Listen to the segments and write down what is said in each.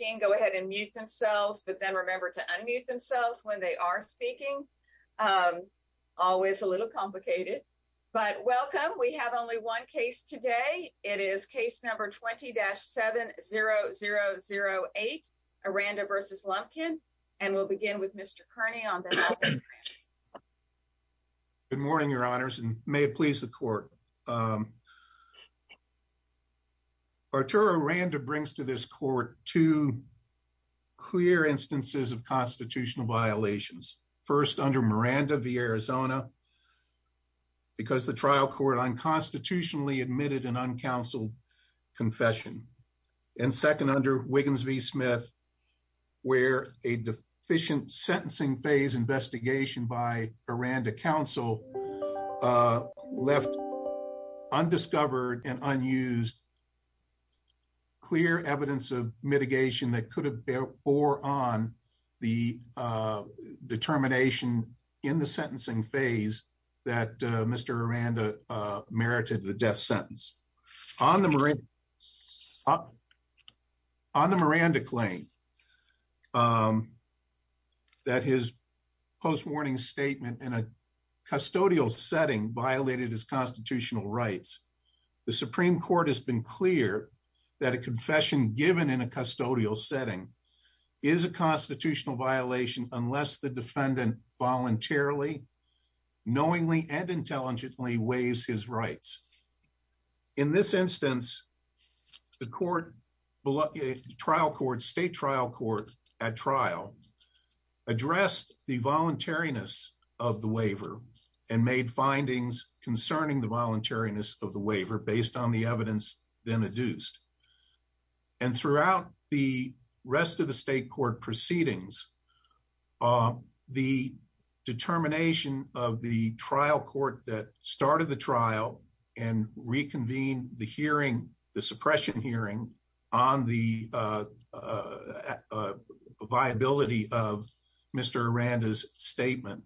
Good morning, Your Honors, and may it please the Court, Arturo Aranda brings to this Court two clear instances of constitutional violations. First under Miranda v. Arizona because the trial court unconstitutionally admitted an uncounseled confession and second under Wiggins v. Smith where a deficient sentencing phase investigation by Aranda counsel left undiscovered and unused clear evidence of mitigation that could have bore on the determination in the sentencing phase that Mr. Aranda merited the death sentence. On the Miranda claim that his post-warning statement in a custodial setting violated his constitutional rights, the Supreme Court has been clear that a confession given in a custodial setting is a constitutional violation unless the defendant voluntarily, knowingly, waives his rights. In this instance, the state trial court at trial addressed the voluntariness of the waiver and made findings concerning the voluntariness of the waiver based on the evidence then adduced and throughout the rest of the state court proceedings, the determination of the trial court that started the trial and reconvened the hearing, the suppression hearing on the viability of Mr. Aranda's statement,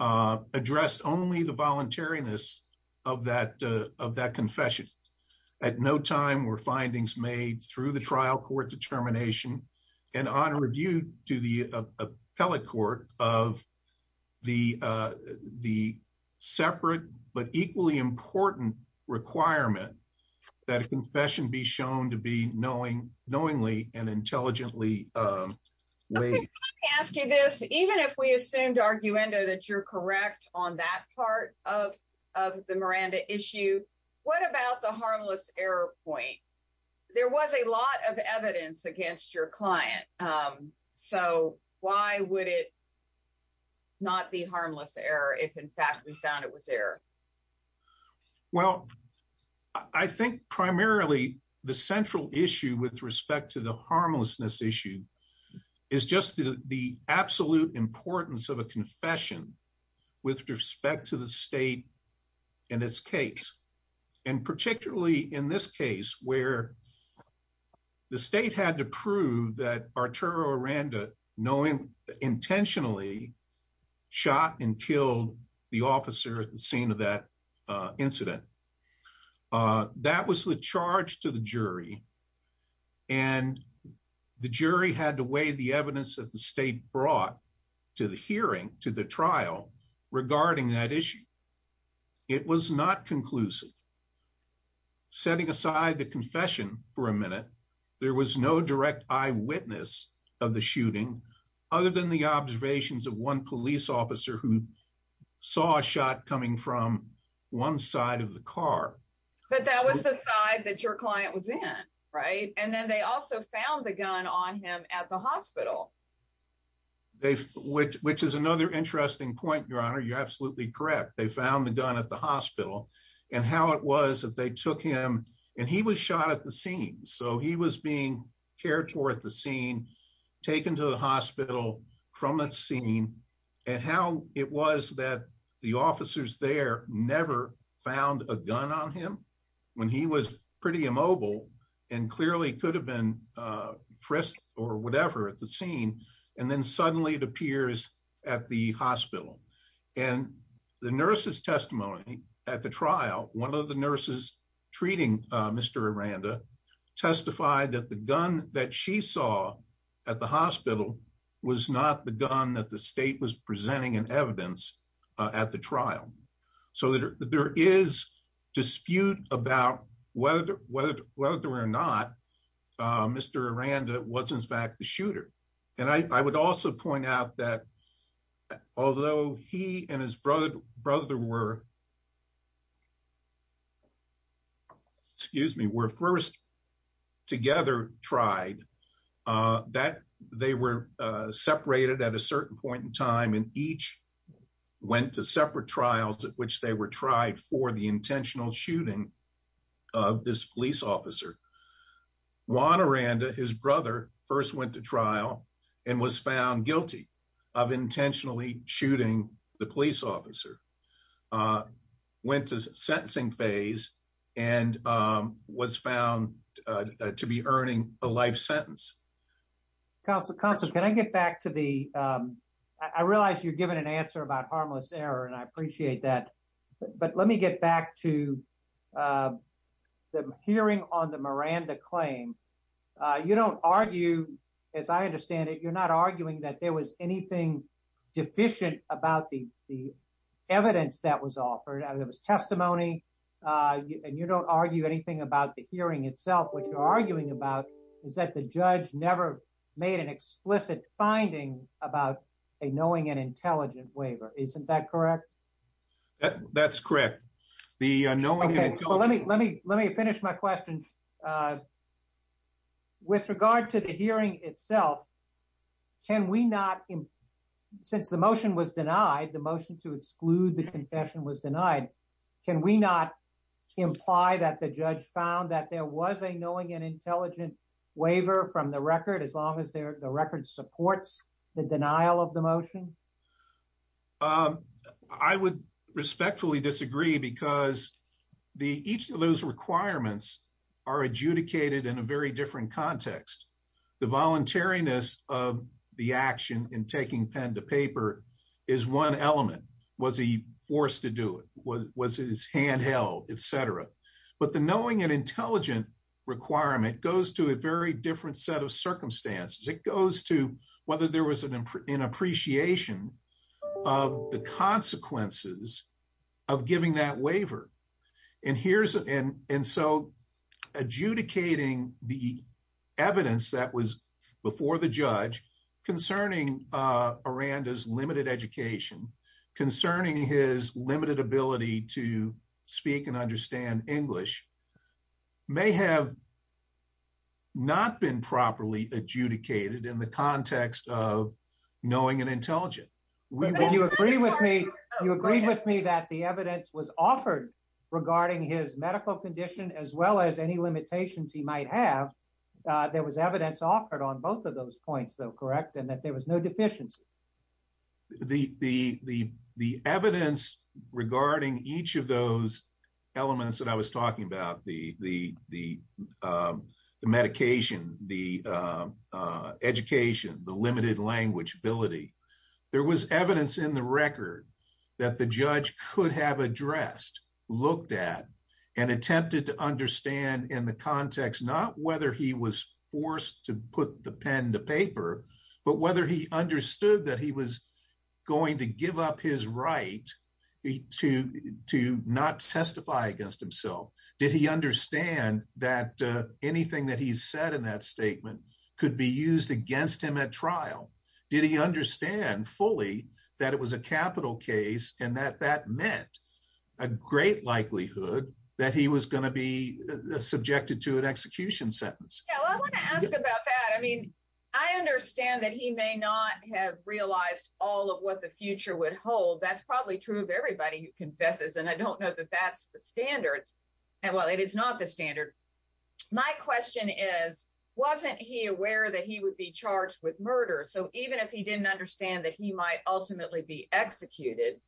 addressed only the voluntariness of that confession. At no time were findings made through the trial court determination and on review to the appellate court of the separate but equally important requirement that a confession be shown to be knowingly and intelligently waived. Let me ask you this, even if we assumed arguendo that you're correct on that part of the Miranda issue, what about the harmless error point? There was a lot of evidence against your client, so why would it not be harmless error if in fact we found it was error? Well, I think primarily the central issue with respect to the harmlessness issue is just the absolute importance of a confession with respect to the state and its case and particularly in this case where the state had to prove that Arturo Aranda knowing intentionally shot and killed the officer at the scene of that incident. That was the charge to jury and the jury had to weigh the evidence that the state brought to the hearing, to the trial regarding that issue. It was not conclusive. Setting aside the confession for a minute, there was no direct eyewitness of the shooting other than the observations of one police officer who saw a shot coming from one side of the car. But that was the side that your client was in, right? And then they also found the gun on him at the hospital. Which is another interesting point, your honor. You're absolutely correct. They found the gun at the hospital and how it was that they took him and he was shot at the scene, so he was being carried toward the scene, taken to the hospital from that scene and how it was that the officers there never found a gun on him when he was pretty immobile and clearly could have been frisked or whatever at the scene and then suddenly it appears at the hospital. And the nurse's that she saw at the hospital was not the gun that the state was presenting in evidence at the trial. So there is dispute about whether or not Mr. Aranda was in fact the shooter. And I would also point out that although he and his brother were excuse me, were first together tried, that they were separated at a certain point in time and each went to separate trials at which they were tried for the intentional shooting of this police officer. Juan Aranda, his brother, first went to trial and was found guilty of intentionally shooting the police officer, went to sentencing phase and was found to be earning a life sentence. Counselor, can I get back to the, I realize you're given an answer about harmless error and I appreciate that, but let me get back to the hearing on Aranda's claim. You don't argue, as I understand it, you're not arguing that there was anything deficient about the evidence that was offered. There was testimony and you don't argue anything about the hearing itself. What you're arguing about is that the judge never made an explicit finding about a knowing and intelligent waiver. Isn't that correct? That's correct. Let me finish my question. With regard to the hearing itself, can we not, since the motion was denied, the motion to exclude the confession was denied, can we not imply that the judge found that there was a knowing and intelligent waiver from the record as long as the record supports the denial of the motion? I would respectfully disagree because each of those requirements are adjudicated in a very different context. The voluntariness of the action in taking pen to paper is one element. Was he forced to do it? Was his hand held, etc.? But the knowing and intelligent requirement goes to a very different set of circumstances. It goes to whether there was an appreciation of the consequences of giving that waiver. And so adjudicating the evidence that was before the judge concerning Aranda's limited education, concerning his limited ability to speak and understand English may have not been properly adjudicated in the context of knowing and intelligent. You agree with me that the evidence was offered regarding his medical condition as well as any limitations he might have. There was evidence offered on both of those points though, correct? And that there was no deficiency. The evidence regarding each of those elements that I was talking about, the medication, the education, the limited language ability, there was evidence in the record that the judge could have addressed, looked at, and attempted to understand in the context, not whether he was forced to put the pen to paper, but whether he understood that he was going to give up his right to not testify against himself. Did he understand that anything that he said in that statement could be used against him at trial? Did he understand fully that it was a capital case and that that meant a great likelihood that he was going to be subjected to an execution sentence? Yeah, I want to ask about that. I mean, I understand that he may not have realized all of what the future would hold. That's probably true of everybody who confesses, and I don't know that that's the standard. And while it is not the standard, my question is, wasn't he aware that he would be charged with murder? So even if he didn't understand that he might ultimately be executed,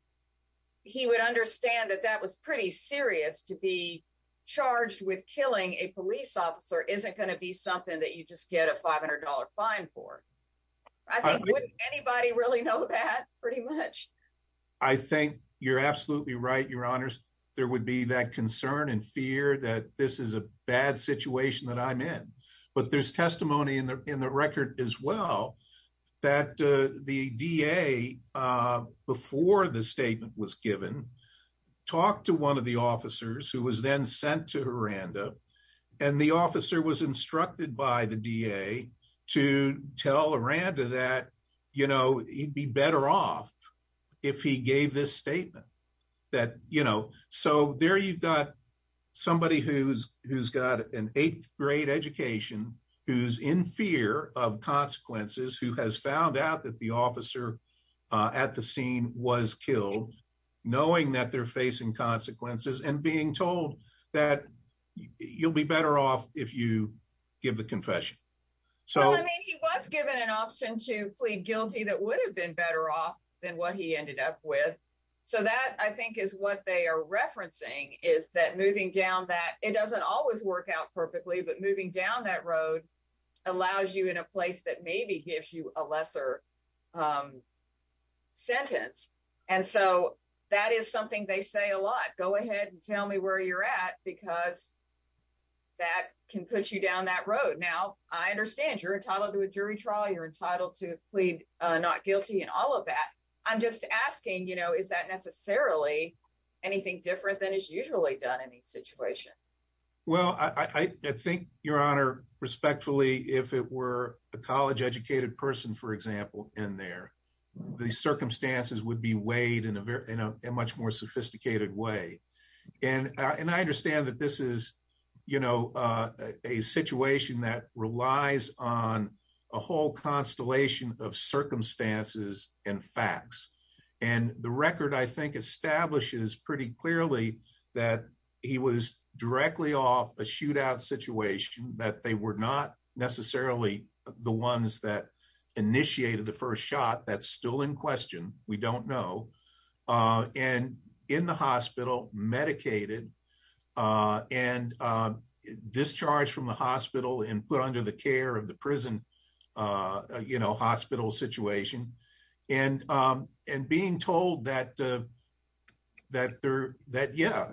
he would understand that that was pretty serious to be charged with killing a police officer isn't going to be something that you just get a $500 fine for. I think wouldn't anybody really know that pretty much? I think you're absolutely right, your honors. There would be that concern and fear that this is a bad situation that I'm in. But there's testimony in the record as well, that the DA, before the statement was given, talked to one of the officers who was then sent to Aranda. And the officer was instructed by the DA to tell Aranda that, you know, he'd be better off if he gave this statement. That, you know, so there you've got somebody who's got an eighth grade education, who's in fear of consequences, who has found out that the officer at the scene was killed, knowing that they're facing consequences and being told that you'll be better off if you give the confession. So he was given an option to plead guilty, that would have been better off than what he ended up with. So that I think is what they are referencing is that moving down that, it doesn't always work out perfectly, but moving down that road allows you in a place that maybe gives you a lesser sentence. And so that is something they say a lot, go ahead and tell me where you're at, because that can put you down that road. Now, I understand you're entitled to a jury trial, you're entitled to plead not guilty and all of that. I'm just asking, you know, is that necessarily anything different than is usually done in these situations? Well, I think, Your Honor, respectfully, if it were a college educated person, for example, in there, the circumstances would be weighed in a much more sophisticated way. And I understand that this is, you know, a situation that relies on a whole constellation of circumstances and facts. And the record, I think, establishes pretty clearly that he was directly off a shootout situation that they were not necessarily the ones that initiated the first shot, that's still in and discharged from the hospital and put under the care of the prison, you know, hospital situation. And being told that, yeah,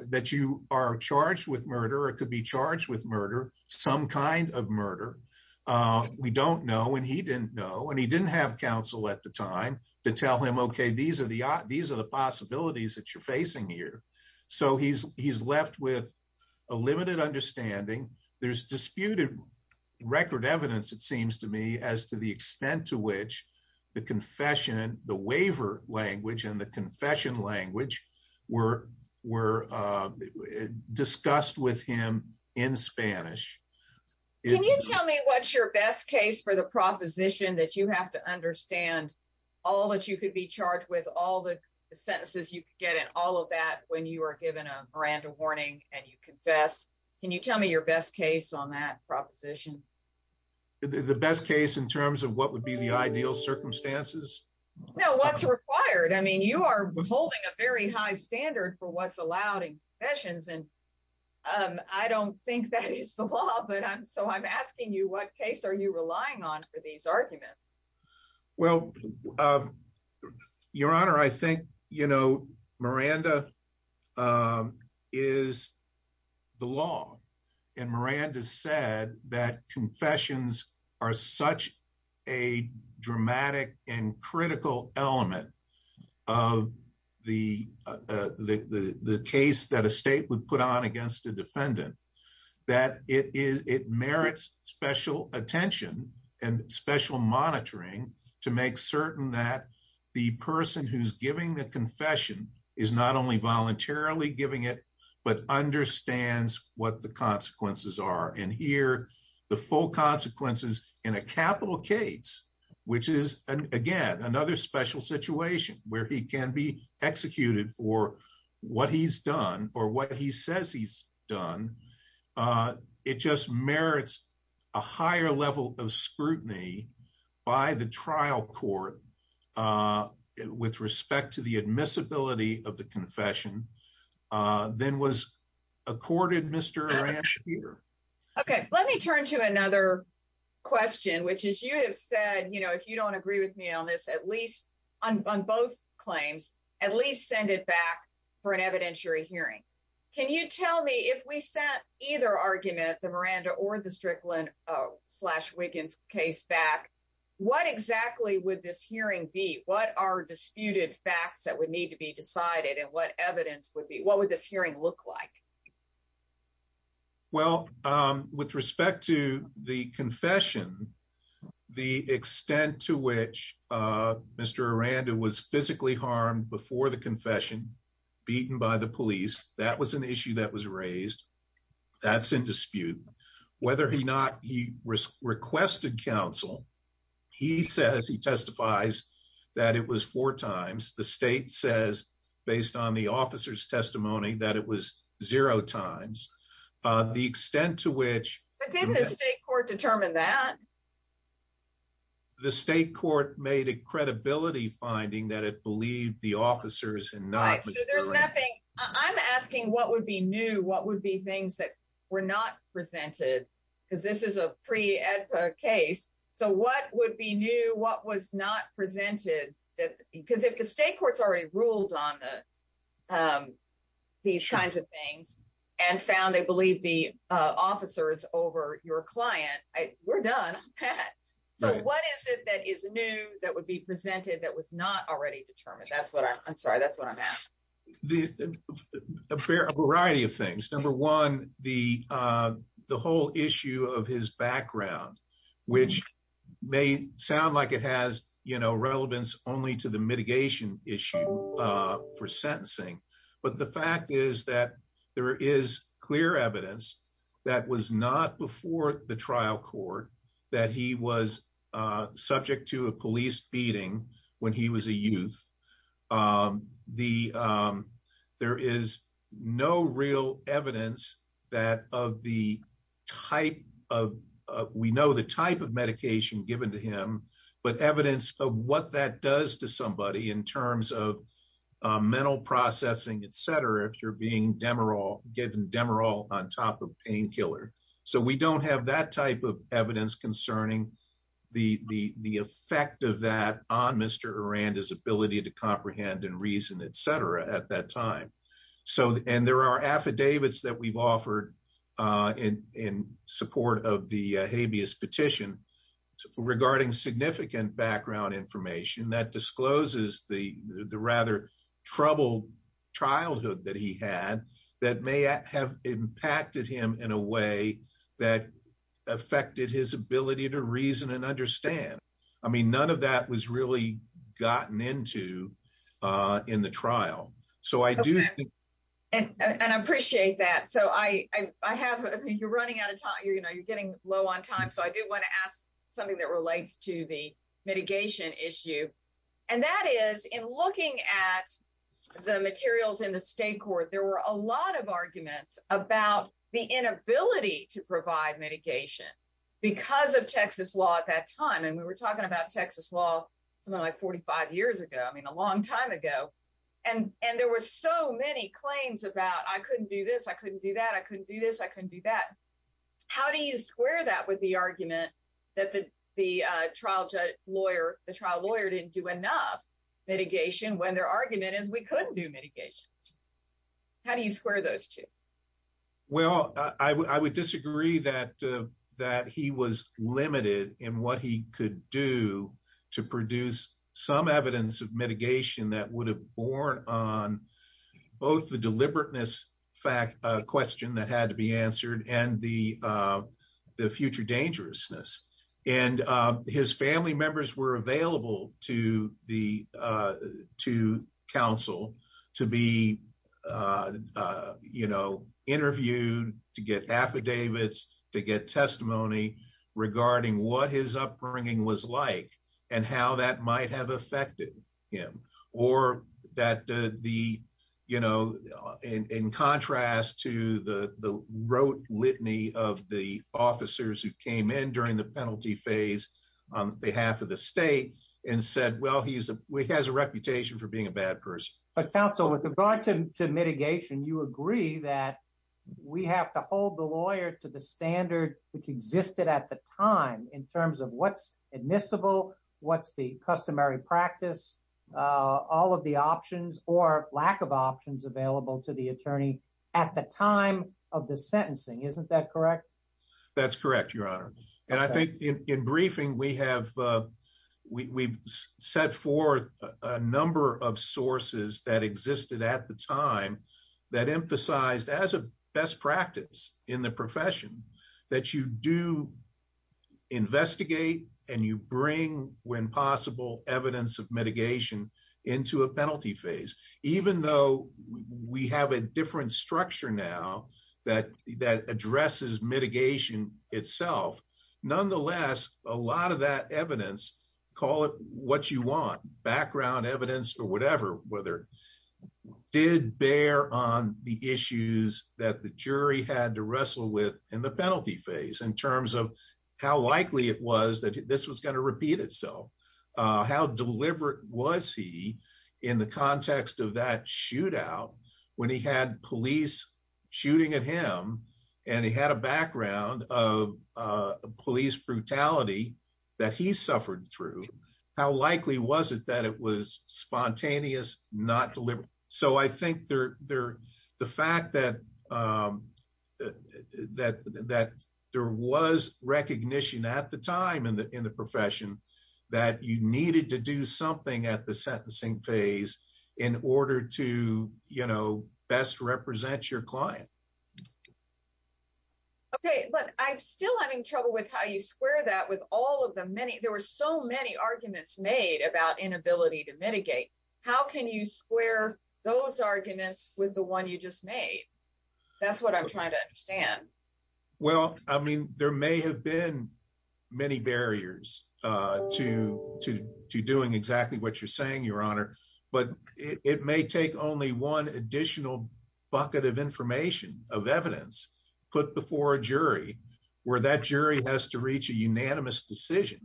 that you are charged with murder, or could be charged with murder, some kind of murder. We don't know, and he didn't know, and he didn't have counsel at the time to tell him, okay, these are the possibilities that you're facing here. So he's left with a limited understanding. There's disputed record evidence, it seems to me, as to the extent to which the confession, the waiver language and the confession language were discussed with him in Spanish. Can you tell me what's your best case for the proposition that you have to understand all that you could be charged with all the sentences you could get in all of that when you are given a Miranda warning and you confess? Can you tell me your best case on that proposition? The best case in terms of what would be the ideal circumstances? No, what's required? I mean, you are holding a very high standard for what's allowed in confessions, and I don't think that is the law, but I'm so I'm asking you, what case are you relying on for these arguments? Well, Your Honor, I think, you know, Miranda is the law, and Miranda said that confessions are such a dramatic and critical element of the case that a state would put on against a defendant that it merits special attention and special monitoring to make certain that the person who's giving the confession is not only voluntarily giving it, but understands what the consequences are. And here, the full consequences in a capital case, which is, again, another special situation where he can be executed for what he's done or what he says he's done. It just merits a higher level of scrutiny by the trial court with respect to the admissibility of the confession than was accorded, Mr. Aran here. Okay, let me turn to another question, which is you have said, you know, if you don't agree with me on this, at least on both claims, at least send it back for an evidentiary hearing. Can you tell me if we sent either argument, the Miranda or the Strickland slash Wiggins case back, what exactly would this hearing be? What are disputed facts that would need to be decided? And what evidence would be what would this hearing look like? Well, with respect to the confession, the extent to which Mr. Aranda was physically harmed before the confession, beaten by the police, that was an issue that was raised. That's in dispute. Whether he not he was requested counsel, he says he testifies that it was four times the state says, based on the officer's testimony that it was zero times the extent to which the state court determined that the state court made a credibility finding that it believed the officers and not there's nothing I'm asking what would be new? What would be things that were not presented? Because this is a pre case. So what would be new? What was not presented? Because if the state courts already ruled on the um, these kinds of things, and found they believe the officers over your client, we're done. So what is it that is new, that would be presented that was not already determined? That's what I'm sorry, that's what I'm asking. The fair variety of things. Number one, the, the whole issue of his background, which may sound like it has, you know, relevance only to the mitigation issue for sentencing. But the fact is that there is clear evidence that was not before the trial court, that he was subject to a police beating when he was a youth. The, there is no real evidence that of the type of, we know the type of medication given to him, but evidence of what that does to somebody in terms of mental processing, etc, if you're being demoral, given demoral on top of painkiller. So we don't have that type of evidence concerning the, the effect of that on Mr. Aranda's ability to comprehend and reason, etc, at that time. So, and there are affidavits that we've offered in support of the habeas petition regarding significant background information that discloses the rather troubled childhood that he had, that may have impacted him in a way that affected his ability to reason and understand. I mean, none of that was really gotten into in the trial. So I do. And I appreciate that. So I, I have, you're running out of time, you know, you're getting low on time. So I do want to ask something that relates to the mitigation issue. And that is in looking at the materials in the state court, there were a lot of arguments about the inability to provide mitigation because of Texas law at that time. We were talking about Texas law, something like 45 years ago, I mean, a long time ago. And, and there were so many claims about I couldn't do this. I couldn't do that. I couldn't do this. I couldn't do that. How do you square that with the argument that the, the trial judge lawyer, the trial lawyer didn't do enough mitigation when their argument is we couldn't do mitigation? How do you square those two? Well, I would disagree that, that he was limited in what he could do to produce some evidence of mitigation that would have borne on both the deliberateness fact question that had to be answered and the, the future dangerousness. And his family members were available to the, to counsel to be, you know, interviewed to get affidavits, to get testimony regarding what his upbringing was like and how that might have affected him or that the, you know, in, in contrast to the, the rote litany of the officers who came in during the penalty phase on behalf of the state and said, well, he has a reputation for being a bad person. But counsel, with regard to mitigation, you agree that we have to hold the lawyer to the time in terms of what's admissible, what's the customary practice, all of the options or lack of options available to the attorney at the time of the sentencing. Isn't that correct? That's correct, your honor. And I think in briefing, we have, we set forth a number of sources that existed at the time that emphasized as a best practice in the profession that you do investigate and you bring when possible evidence of mitigation into a penalty phase, even though we have a different structure now that, that addresses mitigation itself. Nonetheless, a lot of that evidence, call it what you want, background evidence or whatever, whether did bear on the issues that the jury had to wrestle with in the penalty phase in terms of how likely it was that this was going to repeat itself. How deliberate was he in the context of that shootout when he had police shooting at him and he had a background of police brutality that he suffered through, how likely was it that it was spontaneous, not deliberate? So I think the fact that there was recognition at the time in the profession that you needed to do something at the sentencing phase in order to best represent your client. Okay, but I'm still having trouble with how you square that with all of the many, there were so many arguments made about inability to mitigate. How can you square those arguments with the one you just made? That's what I'm trying to understand. Well, I mean, there may have been many barriers to doing exactly what you're saying, your honor, but it may take only one additional bucket of information of evidence put before a jury that has to reach a unanimous decision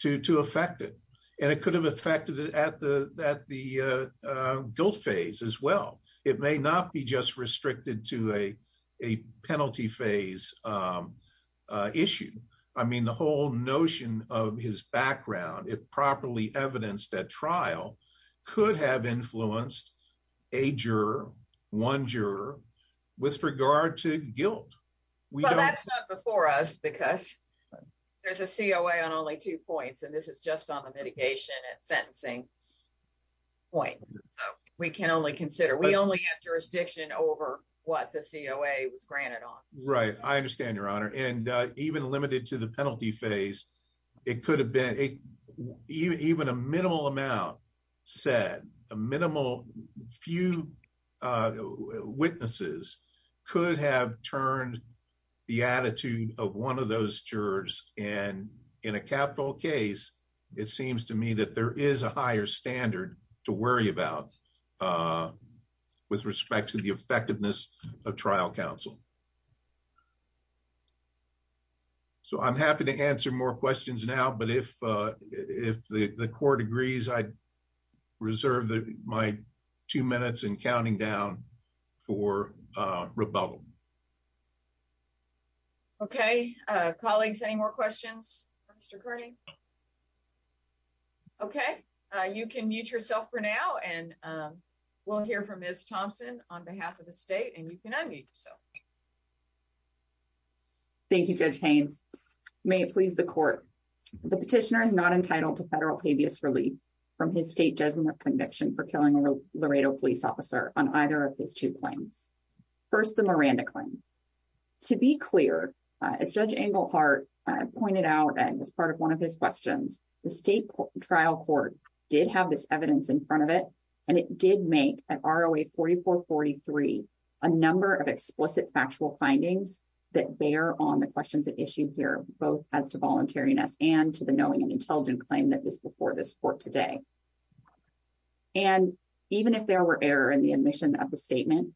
to affect it. And it could have affected it at the guilt phase as well. It may not be just restricted to a penalty phase issue. I mean, the whole notion of his background, if properly evidenced at trial, could have influenced a juror, one juror, with regard to guilt. Well, that's not before us because there's a COA on only two points. And this is just on the mitigation and sentencing point. So we can only consider, we only have jurisdiction over what the COA was granted on. Right. I understand your honor. And even limited to the could have turned the attitude of one of those jurors. And in a capital case, it seems to me that there is a higher standard to worry about with respect to the effectiveness of trial counsel. So I'm happy to answer more questions now. But if the court agrees, I reserve my two minutes and counting down for rebuttal. Okay, colleagues, any more questions for Mr. Kearney? Okay, you can mute yourself for now. And we'll hear from Ms. Thompson on behalf of the state and you can unmute yourself. Thank you, Judge Haynes. May it please the court. The petitioner is not entitled to federal habeas relief from his state judgment conviction for Laredo police officer on either of his two claims. First, the Miranda claim. To be clear, as Judge Englehart pointed out, and as part of one of his questions, the state trial court did have this evidence in front of it. And it did make an ROA 4443, a number of explicit factual findings that bear on the questions that issue here, both as to voluntariness and to the knowing and intelligent claim that this before this court today. And even if there were error in the admission of the statement,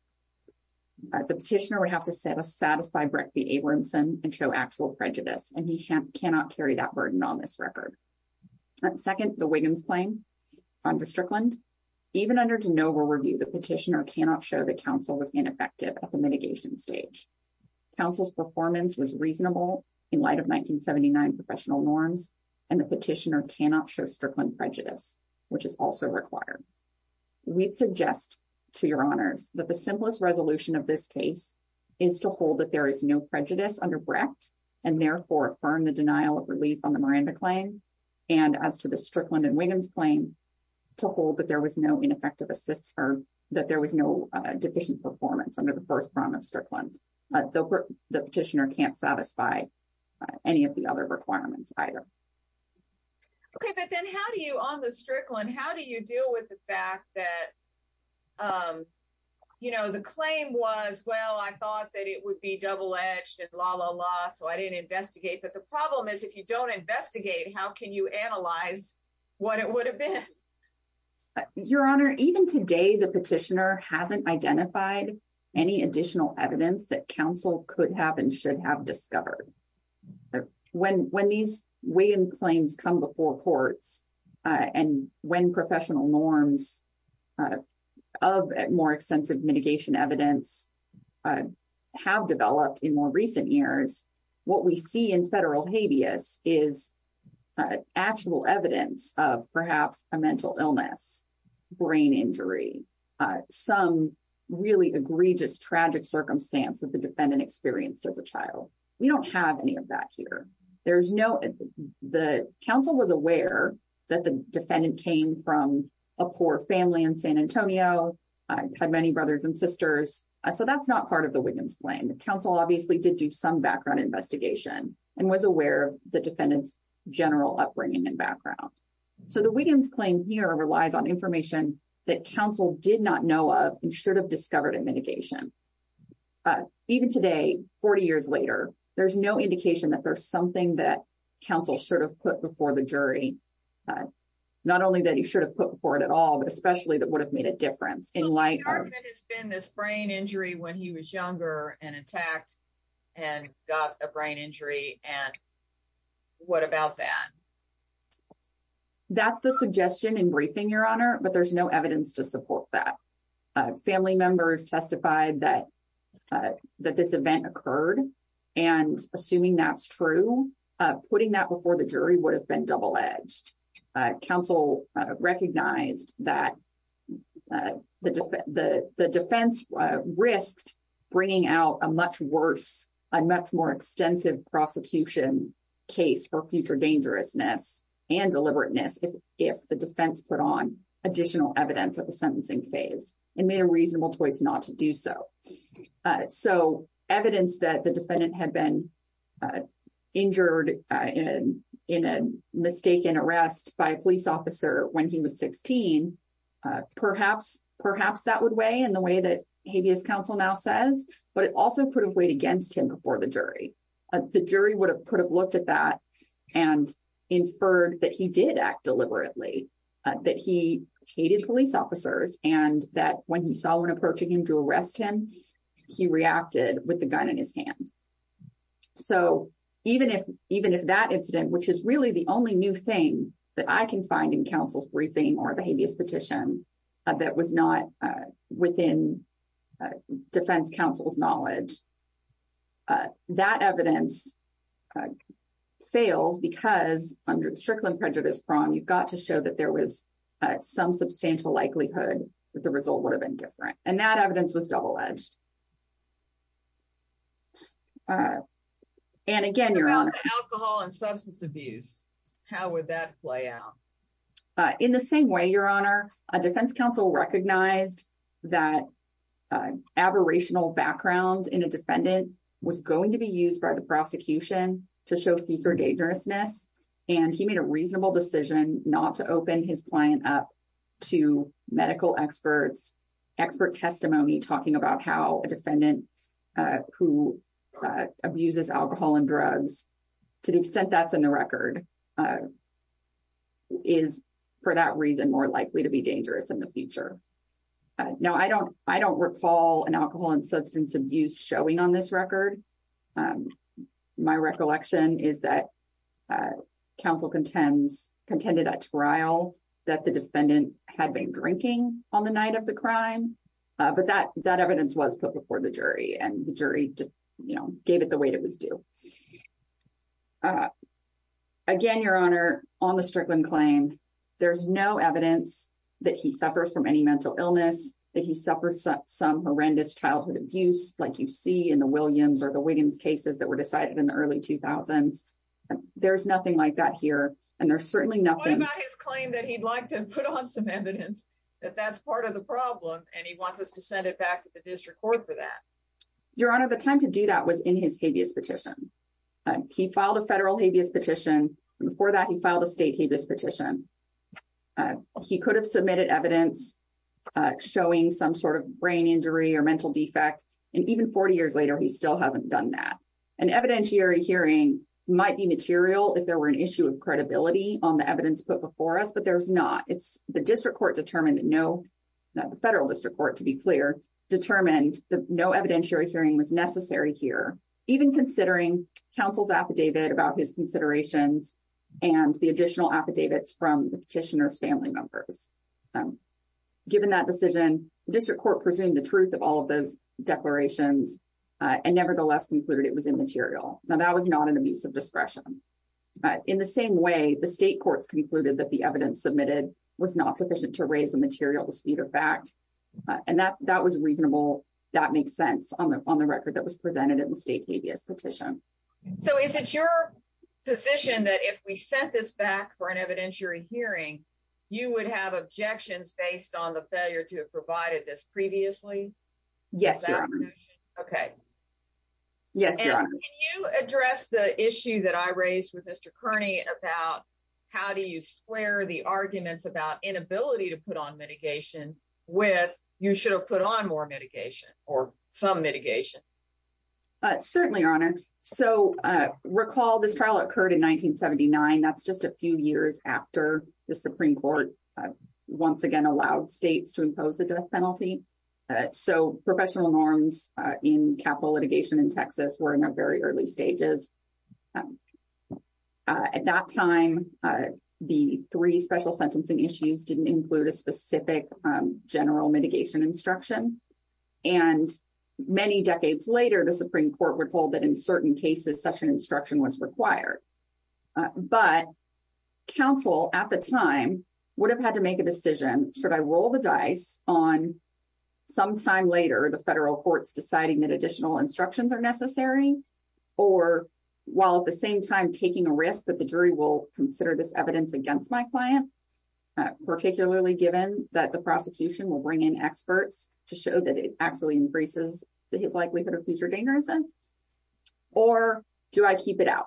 the petitioner would have to satisfy Brecht v. Abramson and show actual prejudice, and he cannot carry that burden on this record. Second, the Wiggins claim under Strickland. Even under de novo review, the petitioner cannot show that counsel was ineffective at the mitigation stage. Counsel's performance was reasonable in light of 1979 professional norms, and the petitioner cannot show Strickland prejudice, which is also required. We'd suggest to your honors that the simplest resolution of this case is to hold that there is no prejudice under Brecht, and therefore affirm the denial of relief on the Miranda claim. And as to the Strickland and Wiggins claim, to hold that there was no ineffective assist, or that there was no deficient performance under the first round of Strickland. The petitioner can't satisfy any of the other requirements either. Okay, but then how do you on the Strickland, how do you deal with the fact that, you know, the claim was, well, I thought that it would be double-edged and la la la, so I didn't investigate. But the problem is, if you don't investigate, how can you analyze what it would have been? Your honor, even today, the petitioner hasn't identified any additional evidence that counsel could have and should have discovered. When these Wiggins claims come before courts, and when professional norms of more extensive mitigation evidence have developed in more recent years, what we see in federal habeas is actual evidence of perhaps a mental illness, brain injury, some really egregious tragic circumstance that the defendant experienced as a child. We don't have any of that here. There's no, the counsel was aware that the defendant came from a poor family in San Antonio, had many brothers and sisters, so that's not part of the Wiggins claim. The counsel obviously did do some background investigation and was aware of the defendant's general upbringing and background. So the Wiggins claim here relies on information that counsel did not know of and should have discovered in mitigation. But even today, 40 years later, there's no indication that there's something that counsel should have put before the jury. Not only that he should have put before it at all, but especially that would have made a difference in light of- So the defendant has been this brain injury when he was younger and attacked and got a brain injury, and what about that? That's the suggestion in briefing, your honor, but there's no evidence to support that. Family members testified that this event occurred, and assuming that's true, putting that before the jury would have been double-edged. Counsel recognized that the defense risked bringing out a much worse, a much more extensive prosecution case for future dangerousness and deliberateness if the defense put on additional evidence at the sentencing phase and made a reasonable choice not to do so. So evidence that the defendant had been injured in a mistaken arrest by a police officer when he was 16, perhaps that would weigh in the way that habeas counsel now says, but it also could have weighed against him before the jury. The jury would have looked at that and inferred that he did act deliberately, that he hated police officers, and that when he saw one approaching him to arrest him, he reacted with the gun in his hand. So even if that incident, which is really the only new thing that I can find in counsel's briefing or the habeas petition that was not within defense counsel's knowledge, that evidence fails because under the Strickland prejudice prong, you've got to show that there was some substantial likelihood that the result would have been different, and that evidence was double-edged. And again, Your Honor. What about alcohol and substance abuse? How would that play out? In the same way, Your Honor, defense counsel recognized that aberrational background in its defendant was going to be used by the prosecution to show future dangerousness, and he made a reasonable decision not to open his client up to medical experts' expert testimony talking about how a defendant who abuses alcohol and drugs, to the extent that's in the record, is, for that reason, more likely to be dangerous in the future. Now, I don't recall an alcohol and substance abuse showing on this record. My recollection is that counsel contended at trial that the defendant had been drinking on the night of the crime, but that evidence was put before the jury, and the jury gave it the weight it was due. Again, Your Honor, on the Strickland claim, there's no evidence that he suffers from any mental illness, that he suffers some horrendous childhood abuse, like you see in the Williams or the Wiggins cases that were decided in the early 2000s. There's nothing like that here, and there's certainly nothing... What about his claim that he'd like to put on some evidence that that's part of the problem, and he wants us to send it back to the district court for that? Your Honor, the time to do that was in his habeas petition. He filed a federal habeas petition. Before that, he filed a state habeas petition. He could have submitted evidence showing some sort of brain injury or mental defect, and even 40 years later, he still hasn't done that. An evidentiary hearing might be material if there were an issue of credibility on the evidence put before us, but there's not. The district court determined that no... The federal district court, to be clear, determined that no evidentiary hearing was necessary here. Even considering counsel's affidavit about his the petitioner's family members. Given that decision, the district court presumed the truth of all of those declarations and nevertheless concluded it was immaterial. Now, that was not an abuse of discretion. In the same way, the state courts concluded that the evidence submitted was not sufficient to raise a material dispute or fact, and that was reasonable. That makes sense on the record that was presented in the state habeas petition. Is it your position that if we sent this back for an evidentiary hearing, you would have objections based on the failure to have provided this previously? Yes, Your Honor. Okay. Yes, Your Honor. Can you address the issue that I raised with Mr. Kearney about how do you square the arguments about inability to put on mitigation with you should have put on more mitigation or some mitigation? Certainly, Your Honor. So, recall this trial occurred in 1979. That's just a few years after the Supreme Court once again allowed states to impose the death penalty. So, professional norms in capital litigation in Texas were in their very early stages. At that time, the three special sentencing issues didn't include a specific general mitigation instruction. And many decades later, the Supreme Court would hold that in But counsel at the time would have had to make a decision. Should I roll the dice on some time later, the federal courts deciding that additional instructions are necessary, or while at the same time taking a risk that the jury will consider this evidence against my client, particularly given that the prosecution will bring in experts to show that it actually increases his likelihood of future dangerousness? Or do I keep it out?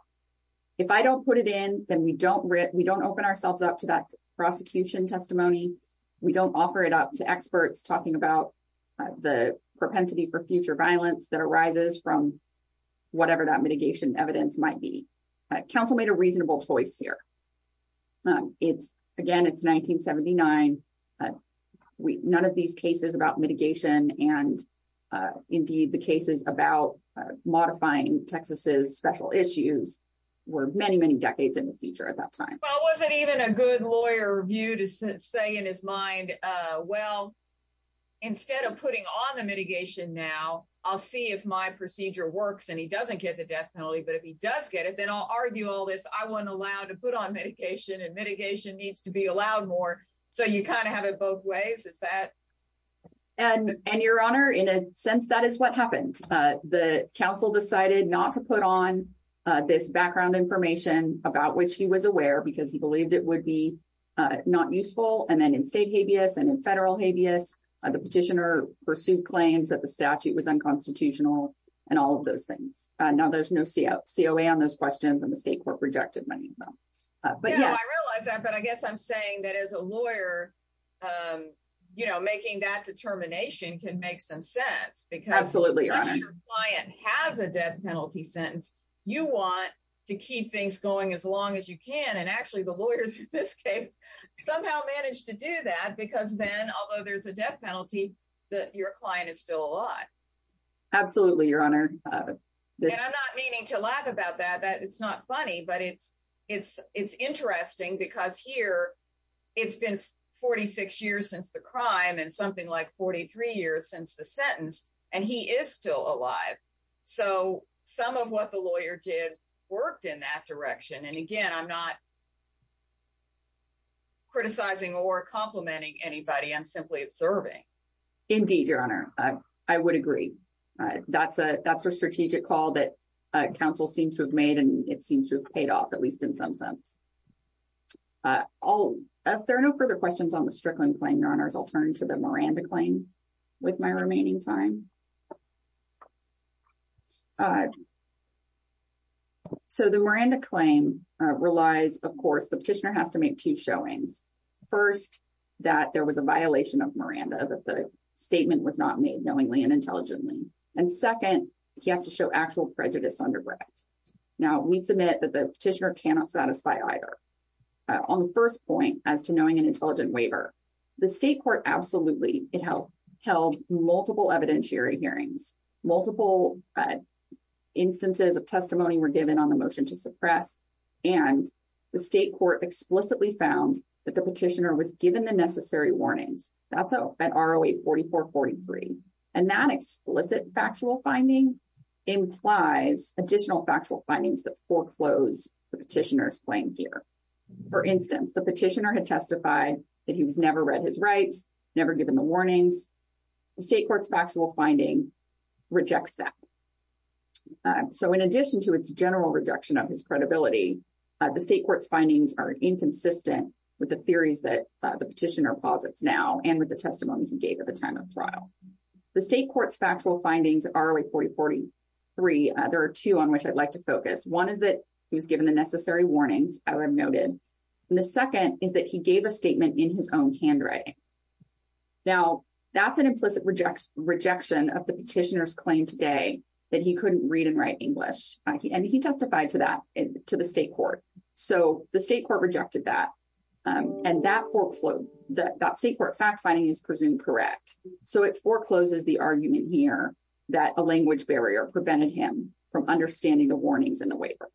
If I don't put it in, then we don't open ourselves up to that prosecution testimony. We don't offer it up to experts talking about the propensity for future violence that arises from whatever that mitigation evidence might be. Counsel made a reasonable choice here. Again, it's 1979. None of these is about mitigation. And indeed, the cases about modifying Texas's special issues were many, many decades in the future at that time. Well, was it even a good lawyer view to say in his mind? Well, instead of putting on the mitigation now, I'll see if my procedure works, and he doesn't get the death penalty. But if he does get it, then I'll argue all this, I wasn't allowed to put on mitigation and mitigation needs to be allowed more. So you kind of have it both ways, is that? And your honor, in a sense, that is what happened. The council decided not to put on this background information about which he was aware, because he believed it would be not useful. And then in state habeas and in federal habeas, the petitioner pursued claims that the statute was unconstitutional, and all of those things. Now there's no COA on those questions, and the state court rejected many of them. But yeah, I realize that. But I guess I'm saying that as a lawyer, you know, making that determination can make some sense. Absolutely, your honor. Because if your client has a death penalty sentence, you want to keep things going as long as you can. And actually, the lawyers in this case, somehow managed to do that, because then although there's a death penalty, that your client is still alive. Absolutely, your honor. I'm not meaning to laugh about that, that it's not funny. But it's interesting, because here, it's been 46 years since the crime and something like 43 years since the sentence, and he is still alive. So some of what the lawyer did worked in that direction. And again, I'm not criticizing or complimenting anybody, I'm simply observing. Indeed, your honor, I would agree. That's a strategic call that counsel seems to have made, and it seems to have paid off, at least in some sense. If there are no further questions on the Strickland claim, your honors, I'll turn to the Miranda claim with my remaining time. So the Miranda claim relies, of course, the petitioner has to make two showings. First, that there was a violation of Miranda, that the statement was not made knowingly and intelligently. And second, he has to show actual prejudice underbred. Now, we submit that the petitioner cannot satisfy either. On the first point as to knowing an intelligent waiver, the state court absolutely held multiple evidentiary hearings, multiple instances of testimony were given on the motion to suppress. And the state court explicitly found that the petitioner was given the necessary warnings. That's at ROA 4443. And that explicit factual finding implies additional factual findings that foreclose the petitioner's claim here. For instance, the petitioner had testified that he was never read his rights, never given the warnings. The state court's factual finding rejects that. So in addition to its general rejection of his credibility, the state court's findings are inconsistent with the theories that the petitioner posits now and with the testimony he gave at the time of trial. The state court's factual findings at ROA 4043, there are two on which I'd like to focus. One is that he was given the necessary warnings, I would have noted. And the second is that he gave a statement in his own handwriting. Now, that's an implicit rejection of the petitioner's claim today that he couldn't read and write English. And he testified to that to the state court. So the state court rejected that. And that foreclosed, that state court fact finding is presumed correct. So it forecloses the argument here that a language barrier prevented him from understanding the warnings in the waiver.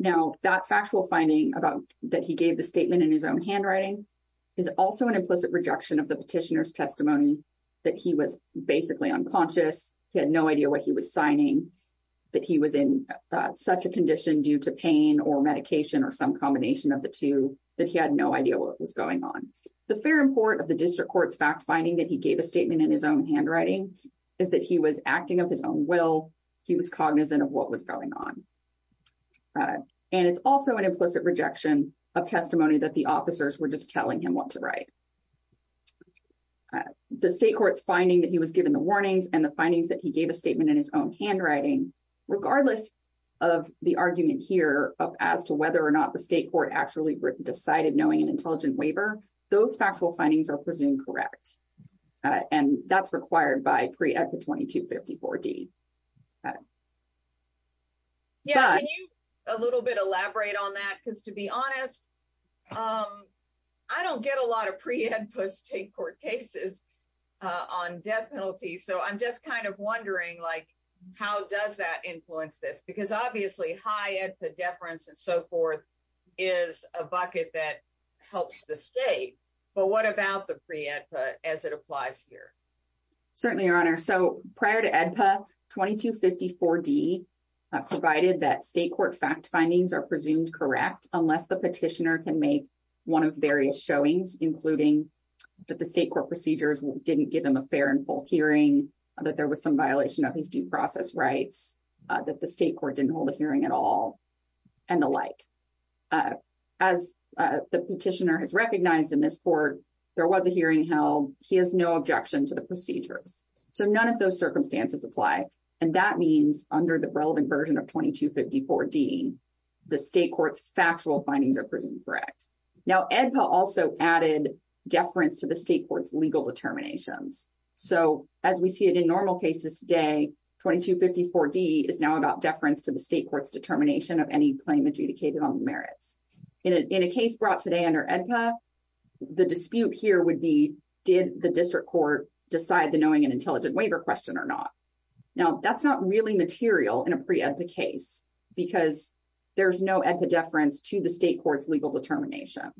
Now, that factual finding about that he gave the statement in his own handwriting is also an implicit rejection of the petitioner's testimony that he was basically unconscious, he had no idea what he was signing, that he was in such a condition due to pain or medication or some combination of the two, that he had no idea what was going on. The fair import of the district court's fact finding that he gave a statement in his own handwriting is that he was acting of his own will, he was cognizant of what was going on. And it's also an implicit rejection of testimony that the officers were just telling him what to write. So the state court's finding that he was given the warnings and the findings that he gave a statement in his own handwriting, regardless of the argument here of as to whether or not the state court actually decided knowing an intelligent waiver, those factual findings are presumed correct. And that's required by pre-edit 2254 D. Can you elaborate on that? Because to be honest, I don't get a lot of pre-EDPA state court cases on death penalty. So I'm just kind of wondering, like, how does that influence this? Because obviously high EDPA deference and so forth is a bucket that helps the state. But what about the 2254 D provided that state court fact findings are presumed correct unless the petitioner can make one of various showings, including that the state court procedures didn't give him a fair and full hearing, that there was some violation of his due process rights, that the state court didn't hold a hearing at all, and the like. As the petitioner has recognized in this court, there was a hearing held, he has no objection to the procedures. So none of those circumstances apply. And that means under the relevant version of 2254 D, the state court's factual findings are presumed correct. Now EDPA also added deference to the state court's legal determinations. So as we see it in normal cases today, 2254 D is now about deference to the state court's determination of any claim adjudicated on the merits. In a case brought today under EDPA, the dispute here would be, did the district court decide the knowing an intelligent waiver question or not? Now that's not really material in a pre EDPA case because there's no EDPA deference to the state court's legal determination.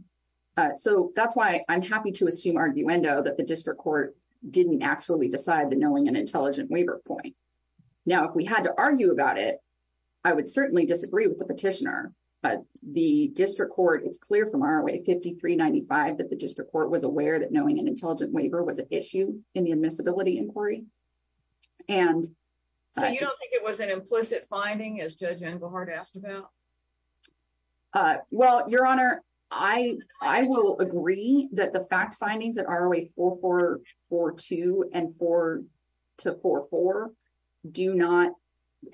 So that's why I'm happy to assume arguendo that the district court didn't actually decide the knowing an intelligent waiver point. Now, if we had to argue about it, I would certainly disagree with the petitioner, but the district court, it's clear from ROA 5395 that the district court was aware that admissibility inquiry. So you don't think it was an implicit finding as Judge Englehart asked about? Well, your honor, I will agree that the fact findings at ROA 4442 and 4444 do not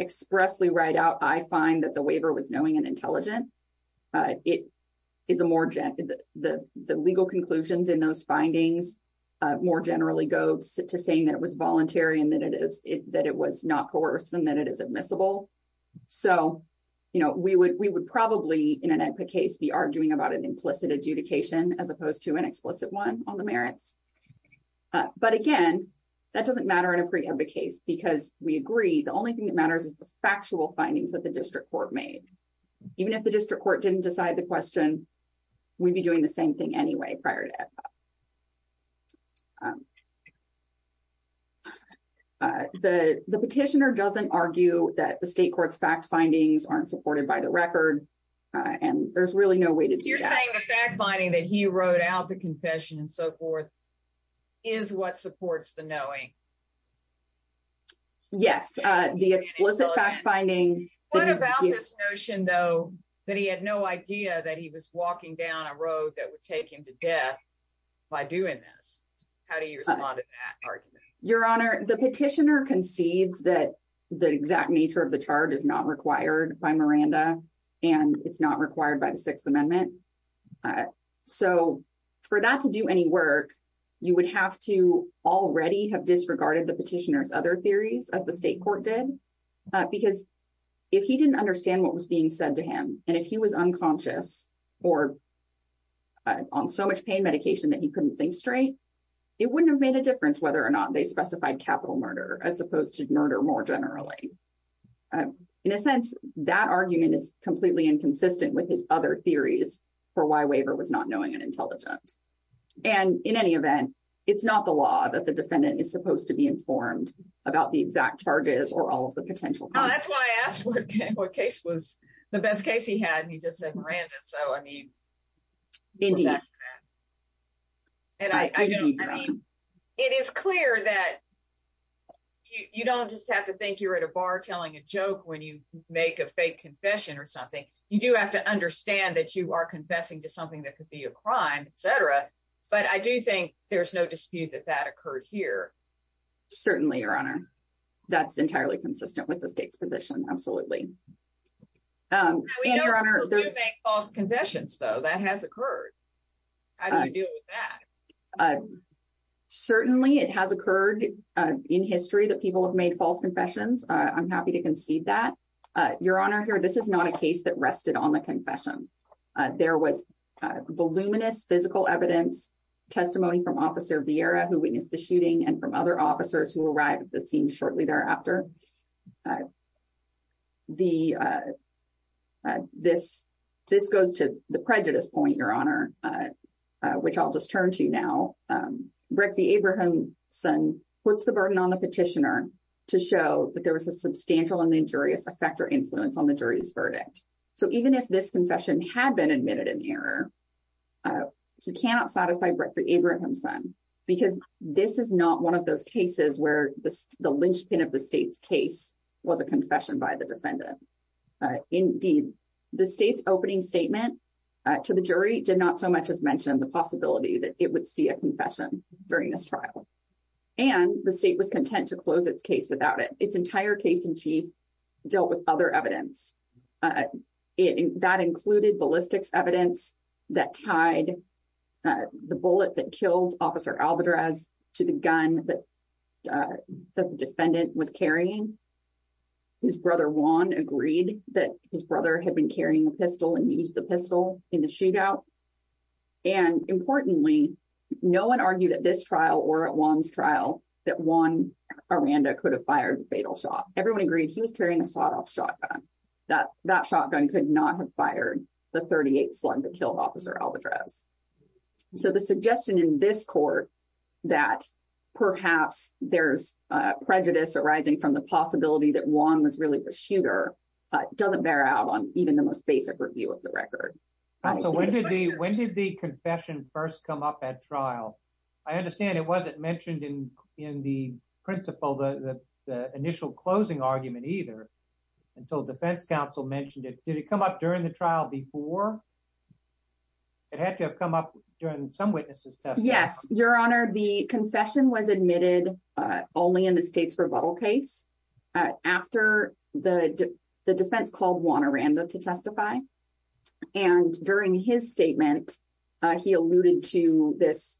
expressly write out, I find that the waiver was knowing and intelligent. It is a more, the legal conclusions in those findings more generally go to saying that it was voluntary and that it was not coerced and that it is admissible. So we would probably in an EDPA case be arguing about an implicit adjudication as opposed to an explicit one on the merits. But again, that doesn't matter in a pre EDPA case because we agree the only thing that matters is the factual findings that the district court made. Even if the district court didn't decide the question, we'd be doing the same thing anyway prior to EDPA. The petitioner doesn't argue that the state court's fact findings aren't supported by the record and there's really no way to do that. You're saying the fact finding that he wrote out the confession and so forth is what supports the knowing? Yes, the explicit fact finding. What about this notion that he had no idea that he was walking down a road that would take him to death by doing this? How do you respond to that argument? Your Honor, the petitioner concedes that the exact nature of the charge is not required by Miranda and it's not required by the Sixth Amendment. So for that to do any work, you would have to already have disregarded the petitioner's theories as the state court did because if he didn't understand what was being said to him and if he was unconscious or on so much pain medication that he couldn't think straight, it wouldn't have made a difference whether or not they specified capital murder as opposed to murder more generally. In a sense, that argument is completely inconsistent with his other theories for why Waver was not knowing and intelligent. And in any event, it's not the law that the exact charge is or all of the potential. That's why I asked what case was the best case he had and he just said Miranda. So I mean, it is clear that you don't just have to think you're at a bar telling a joke when you make a fake confession or something. You do have to understand that you are confessing to something that could be a crime, etc. But I do think there's no dispute that that that's entirely consistent with the state's position. Absolutely. False confessions, though that has occurred. I do that. Certainly it has occurred in history that people have made false confessions. I'm happy to concede that your honor here. This is not a case that rested on the confession. There was voluminous physical evidence testimony from Officer Vieira who witnessed the shooting and from other officers who arrived at the scene shortly thereafter. This goes to the prejudice point, your honor, which I'll just turn to now. Brecht v. Abrahamson puts the burden on the petitioner to show that there was a substantial and injurious effect or influence on the jury's verdict. So even if this confession had been admitted in error, he cannot satisfy Brecht v. Abrahamson because this is not one of those cases where the linchpin of the state's case was a confession by the defendant. Indeed, the state's opening statement to the jury did not so much as mention the possibility that it would see a confession during this trial. And the state was content to close its case without it. Its entire case in chief dealt with other evidence. And that included ballistics evidence that tied the bullet that killed Officer Alvarez to the gun that the defendant was carrying. His brother, Juan, agreed that his brother had been carrying a pistol and used the pistol in the shootout. And importantly, no one argued at this trial or at Juan's trial that Juan Aranda could have fired the fatal shot. Everyone agreed he was carrying a sawed-off shotgun. That shotgun could not have fired the .38 slug that killed Officer Alvarez. So the suggestion in this court that perhaps there's prejudice arising from the possibility that Juan was really the shooter doesn't bear out on even the most basic review of the record. So when did the confession first come up at trial? I understand it wasn't mentioned in the principle, the initial closing argument either, until defense counsel mentioned it. Did it come up during the trial before? It had to have come up during some witnesses' testimony. Yes, Your Honor. The confession was admitted only in the state's rebuttal case after the defense called Juan Aranda to testify. And during his statement, he alluded to this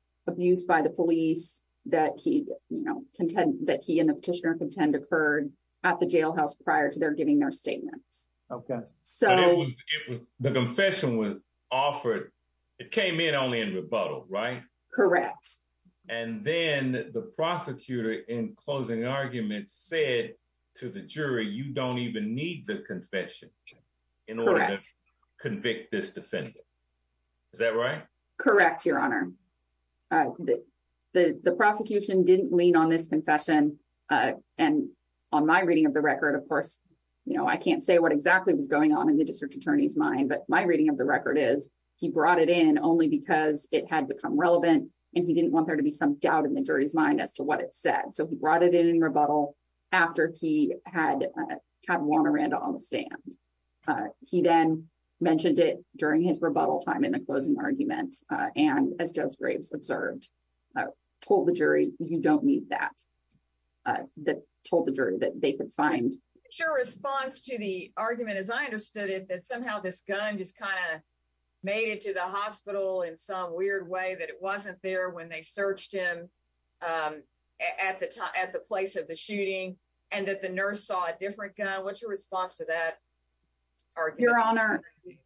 by the police that he and the petitioner contend occurred at the jailhouse prior to their giving their statements. Okay. The confession was offered, it came in only in rebuttal, right? Correct. And then the prosecutor in closing argument said to the jury, you don't even need the confession in order to convict this defendant. Is that right? Correct, Your Honor. The prosecution didn't lean on this confession. And on my reading of the record, of course, I can't say what exactly was going on in the district attorney's mind, but my reading of the record is he brought it in only because it had become relevant and he didn't want there to be some doubt in the jury's mind as to what it said. So he brought it in rebuttal after he had had Juan Aranda on the stand. He then mentioned it during his rebuttal time in the closing argument. And as Judge Graves observed, told the jury, you don't need that. That told the jury that they could find. Your response to the argument, as I understood it, that somehow this gun just kind of made it to the hospital in some weird way that it wasn't there when they searched him at the place of the shooting and that the nurse saw a different gun. What's your response to that argument?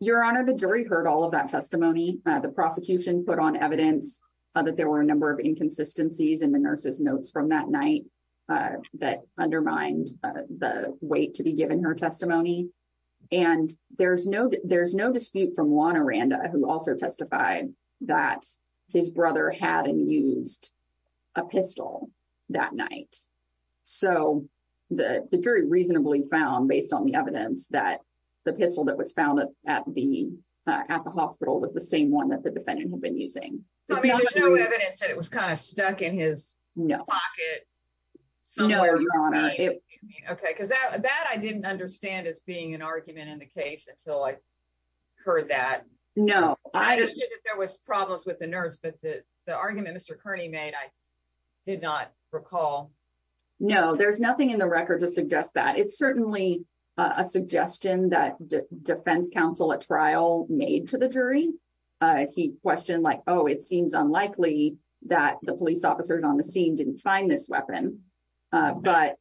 Your Honor, the jury heard all of that testimony. The prosecution put on evidence that there were a number of inconsistencies in the nurse's notes from that night that undermined the weight to be given her testimony. And there's no dispute from Aranda, who also testified that his brother had used a pistol that night. So the jury reasonably found, based on the evidence, that the pistol that was found at the hospital was the same one that the defendant had been using. So there's no evidence that it was kind of stuck in his pocket? OK, because that I didn't understand as being an argument in the case until I No, I understood that there was problems with the nurse, but the argument Mr. Kearney made, I did not recall. No, there's nothing in the record to suggest that. It's certainly a suggestion that defense counsel at trial made to the jury. He questioned like, oh, it seems unlikely that the police officers on the scene didn't find this weapon. But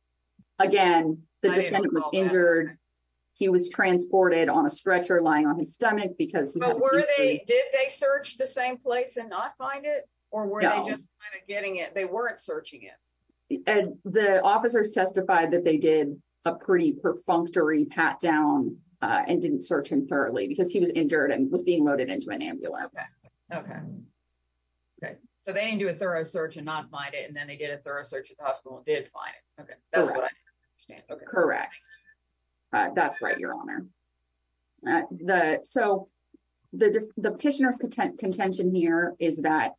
again, the defendant was injured. He was transported on a stretcher lying on his stomach. But did they search the same place and not find it? Or were they just kind of getting it? They weren't searching it. The officers testified that they did a pretty perfunctory pat down and didn't search him thoroughly because he was injured and was being loaded into an ambulance. OK, so they didn't do a thorough search and not find it. And then they did a thorough hospital and did find it. OK, that's what I understand. Correct. That's right, Your Honor. So the petitioner's contention here is that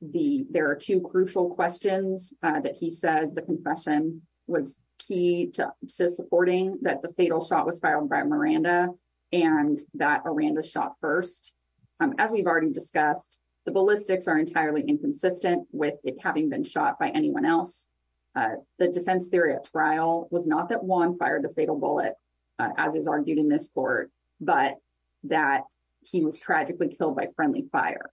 the there are two crucial questions that he says the confession was key to supporting that the fatal shot was filed by Miranda and that Miranda shot first. As we've already discussed, the ballistics are entirely inconsistent with it having been shot by anyone else. The defense theory at trial was not that Juan fired the fatal bullet, as is argued in this court, but that he was tragically killed by friendly fire.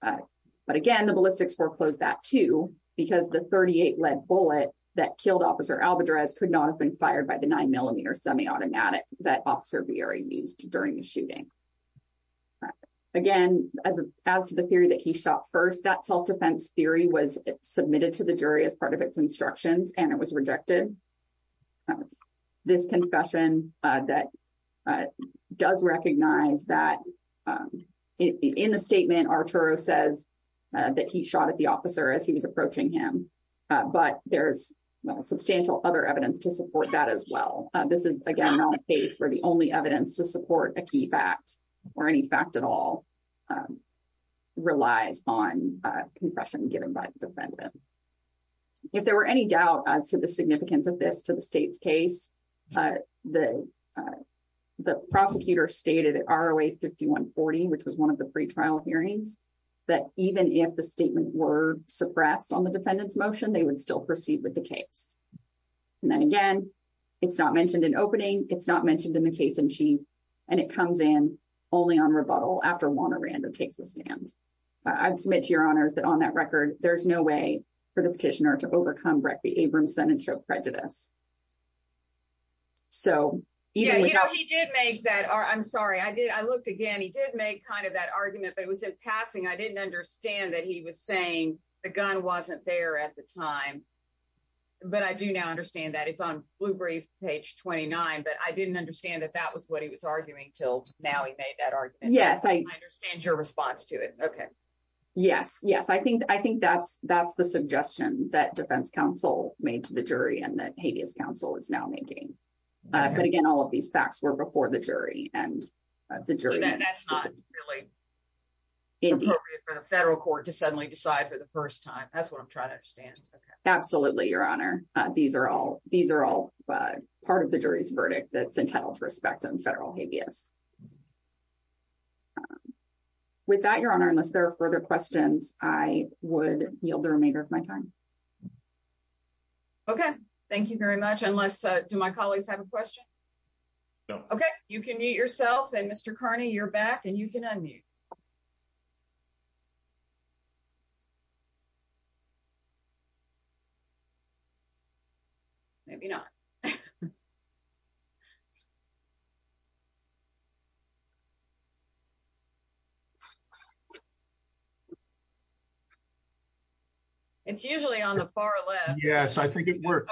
But again, the ballistics foreclosed that, too, because the 38 lead bullet that killed Officer Alvarez could not have been fired by the nine millimeter semiautomatic that Officer Bieri used during the shooting. Again, as as to the theory that he shot first, that self-defense theory was submitted to the jury as part of its instructions and it was rejected. This confession that does recognize that in the statement, Arturo says that he shot at the officer as he was approaching him. But there's substantial other evidence to support that as well. This is, again, not a case where the only evidence to support a key fact or any fact at all relies on a confession given by the defendant. If there were any doubt as to the significance of this to the state's case, the prosecutor stated at ROA 5140, which was one of the pre-trial hearings, that even if the statement were suppressed on the defendant's motion, they would still proceed with the case. And then again, it's not mentioned in opening, it's not mentioned in the case in chief, and it comes in only on rebuttal after Wanda Randall takes the stand. I'd submit to your honors that on that record, there's no way for the petitioner to overcome Breck v. Abramson and show prejudice. So, you know, he did make that, I'm sorry, I did, I looked again, he did make kind of that argument, but it was in passing. I didn't understand that he was saying the gun wasn't there at the time. But I do now understand that it's on Blue Brief, page 29, but I didn't understand that that was what he was arguing till now he made that argument. Yes, I understand your response to it. Okay. Yes, yes. I think that's the suggestion that defense counsel made to the jury and that habeas counsel is now making. But again, all of these facts were before the jury and the jury. So that's not really appropriate for the federal court to suddenly decide for the first time. That's what I'm trying to understand. Absolutely, your honor. These are all part of the jury's verdict that's entitled to respect and federal habeas. With that, your honor, unless there are further questions, I would yield the remainder of my time. Okay, thank you very much. Unless, do my colleagues have a question? No. Okay, you can mute yourself and Mr. Carney, you're back and unmute. Maybe not. It's usually on the far left. Yes, I think it worked.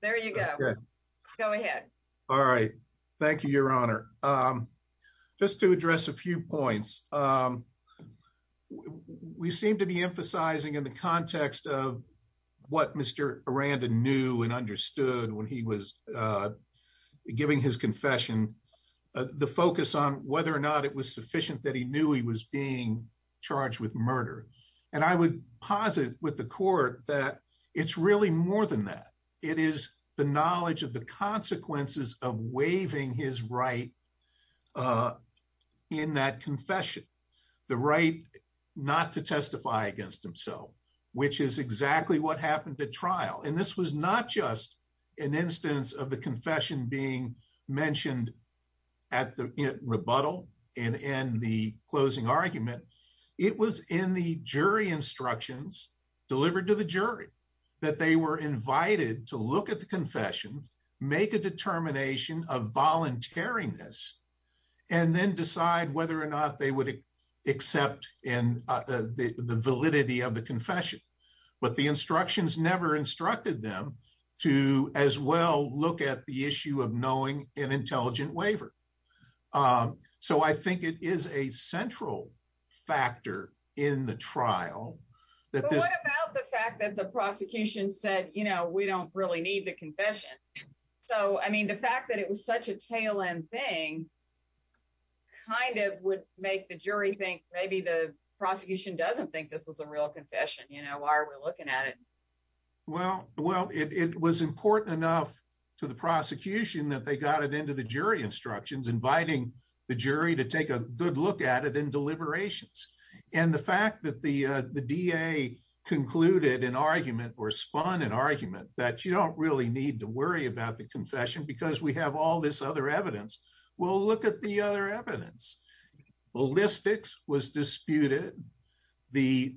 There you go. Go ahead. All right. Thank you, your honor. Just to address a few points. We seem to be emphasizing in the context of what Mr. Aranda knew and understood when he was giving his confession, the focus on whether or not it was sufficient that he knew he was being charged with murder. And I would posit with the court that it's really more than that. It is the knowledge of the consequences of waiving his right in that confession. The right not to testify against himself, which is exactly what happened at trial. And this was not just an instance of the confession being mentioned at the rebuttal and in the closing argument. It was in the jury instructions delivered to the jury that they were invited to look at the confession, make a determination of voluntariness, and then decide whether or not they would accept the validity of the confession. But the instructions never instructed them to as well look at the issue of knowing an intelligent waiver. So I think it is a central factor in the trial. But what about the fact that the prosecution said, you know, we don't really need the confession. So, I mean, the fact that it was such a tail end thing kind of would make the jury think maybe the prosecution doesn't think this was a real confession. You know, why are we looking at it? Well, it was important enough to the prosecution that they got it into the jury instructions, inviting the jury to take a good look at it in deliberations. And the fact that the DA concluded an argument or spun an argument that you don't really need to worry about the confession because we have all this other evidence. Well, look at the other evidence. Ballistics was disputed. The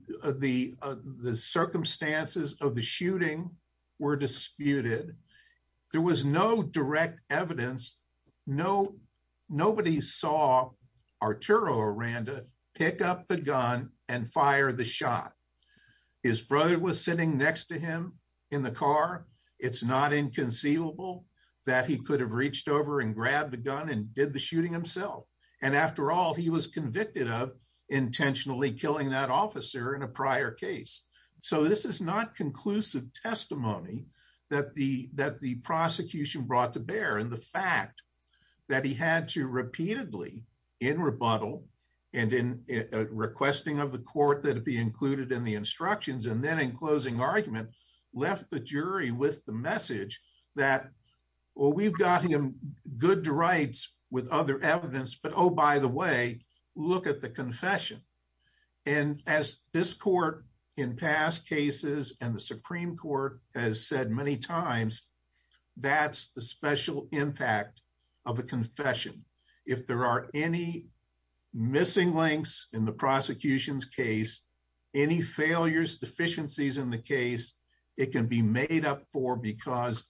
circumstances of the shooting were disputed. There was no direct evidence. Nobody saw Arturo Aranda pick up the gun and fire the shot. His brother was sitting next to him in the car. It's not inconceivable that he could have reached over and grabbed the gun and did the shooting himself. And after all, he was convicted of intentionally killing that officer in a prior case. So, this is not conclusive testimony that the prosecution brought to bear. And the fact that he had to repeatedly, in rebuttal, and in requesting of the court that it be included in the instructions, and then in closing argument, left the jury with the message that, well, we've got him good to rights with other evidence, but oh, by the way, look at the confession. And as this court in past cases and the Supreme Court has said many times, that's the special impact of a confession. If there are any missing links in the prosecution's case, any failures, deficiencies in the case, it can be made up for because,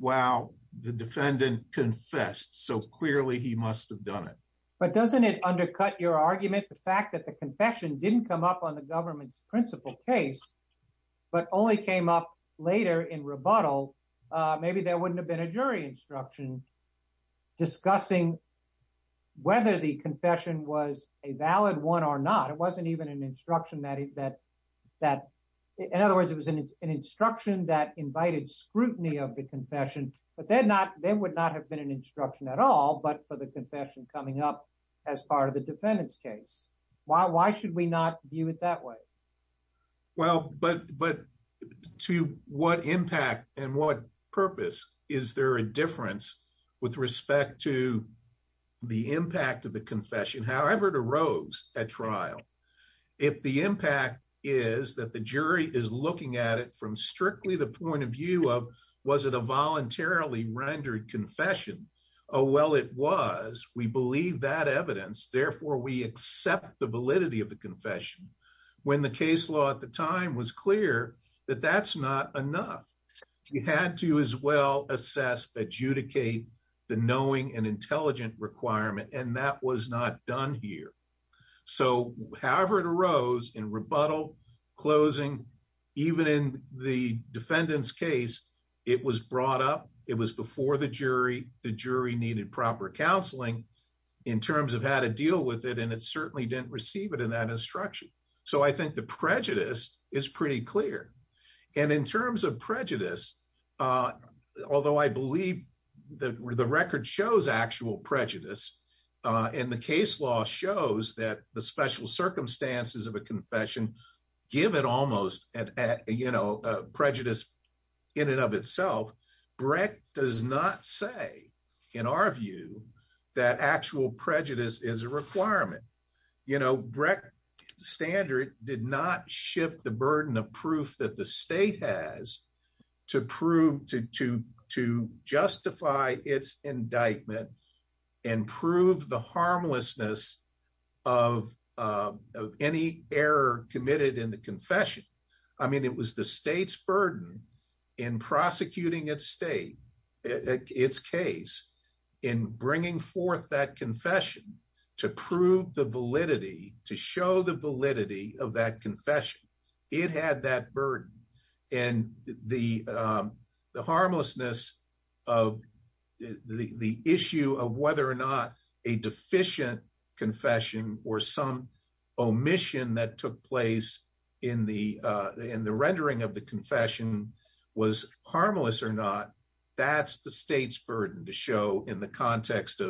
wow, the defendant confessed, so clearly he must have done it. But doesn't it undercut your argument, the fact that the confession didn't come up on the government's principal case, but only came up later in rebuttal? Maybe there wouldn't have been a jury instruction discussing whether the confession was a valid one or not. It wasn't even an instruction that, in other words, it was an instruction that invited scrutiny of the confession, but there would not have been an instruction at all, but for the confession coming up as part of the defendant's case. Why should we not view it that way? Well, but to what impact and what purpose is there a difference with respect to the impact of the confession, however it arose at trial? If the impact is that the jury is looking at it from strictly the point of view of, was it a voluntarily rendered confession? Oh, well, it was. We believe that evidence, therefore we accept the validity of the confession. When the case law at the time was clear that that's not enough. We had to as well assess, adjudicate the knowing and intelligent requirement, and that was not done here. So however it arose in rebuttal, closing, even in the defendant's case, it was brought up. It was before the jury. The jury needed proper counseling in terms of how to deal with it, and it certainly didn't receive it in that instruction. So I think the prejudice is pretty clear. And in terms of prejudice, although I believe the record shows actual prejudice, and the case law shows that the special circumstances of a confession give it almost prejudice in and of itself, Breck does not say in our view that actual prejudice is a requirement. You know, Breck standard did not shift the burden of proof that the state has to prove to justify its indictment and prove the harmlessness of any error committed in the confession. I mean, it was the state's burden in prosecuting its state, its case, in bringing forth that confession to prove the validity, to show the validity of that confession. It had that burden. And the harmlessness of the issue of whether or not a deficient confession or some omission that took place in the rendering of the confession was harmless or not, that's the state's burden to show in the context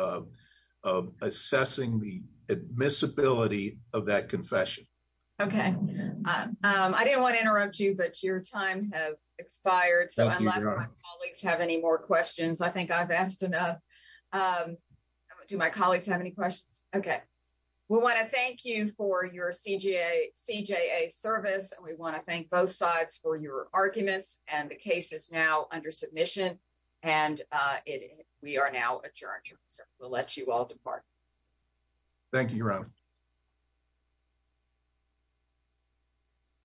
of assessing the admissibility of that confession. Okay. I didn't want to interrupt you, but your time has expired. So unless my colleagues have any more questions, I think I've asked enough. Do my colleagues have any questions? Okay. We want to thank you for your CJA service, and we want to thank both sides for your arguments and the case is now under submission and we are now adjourned. We'll let you all depart.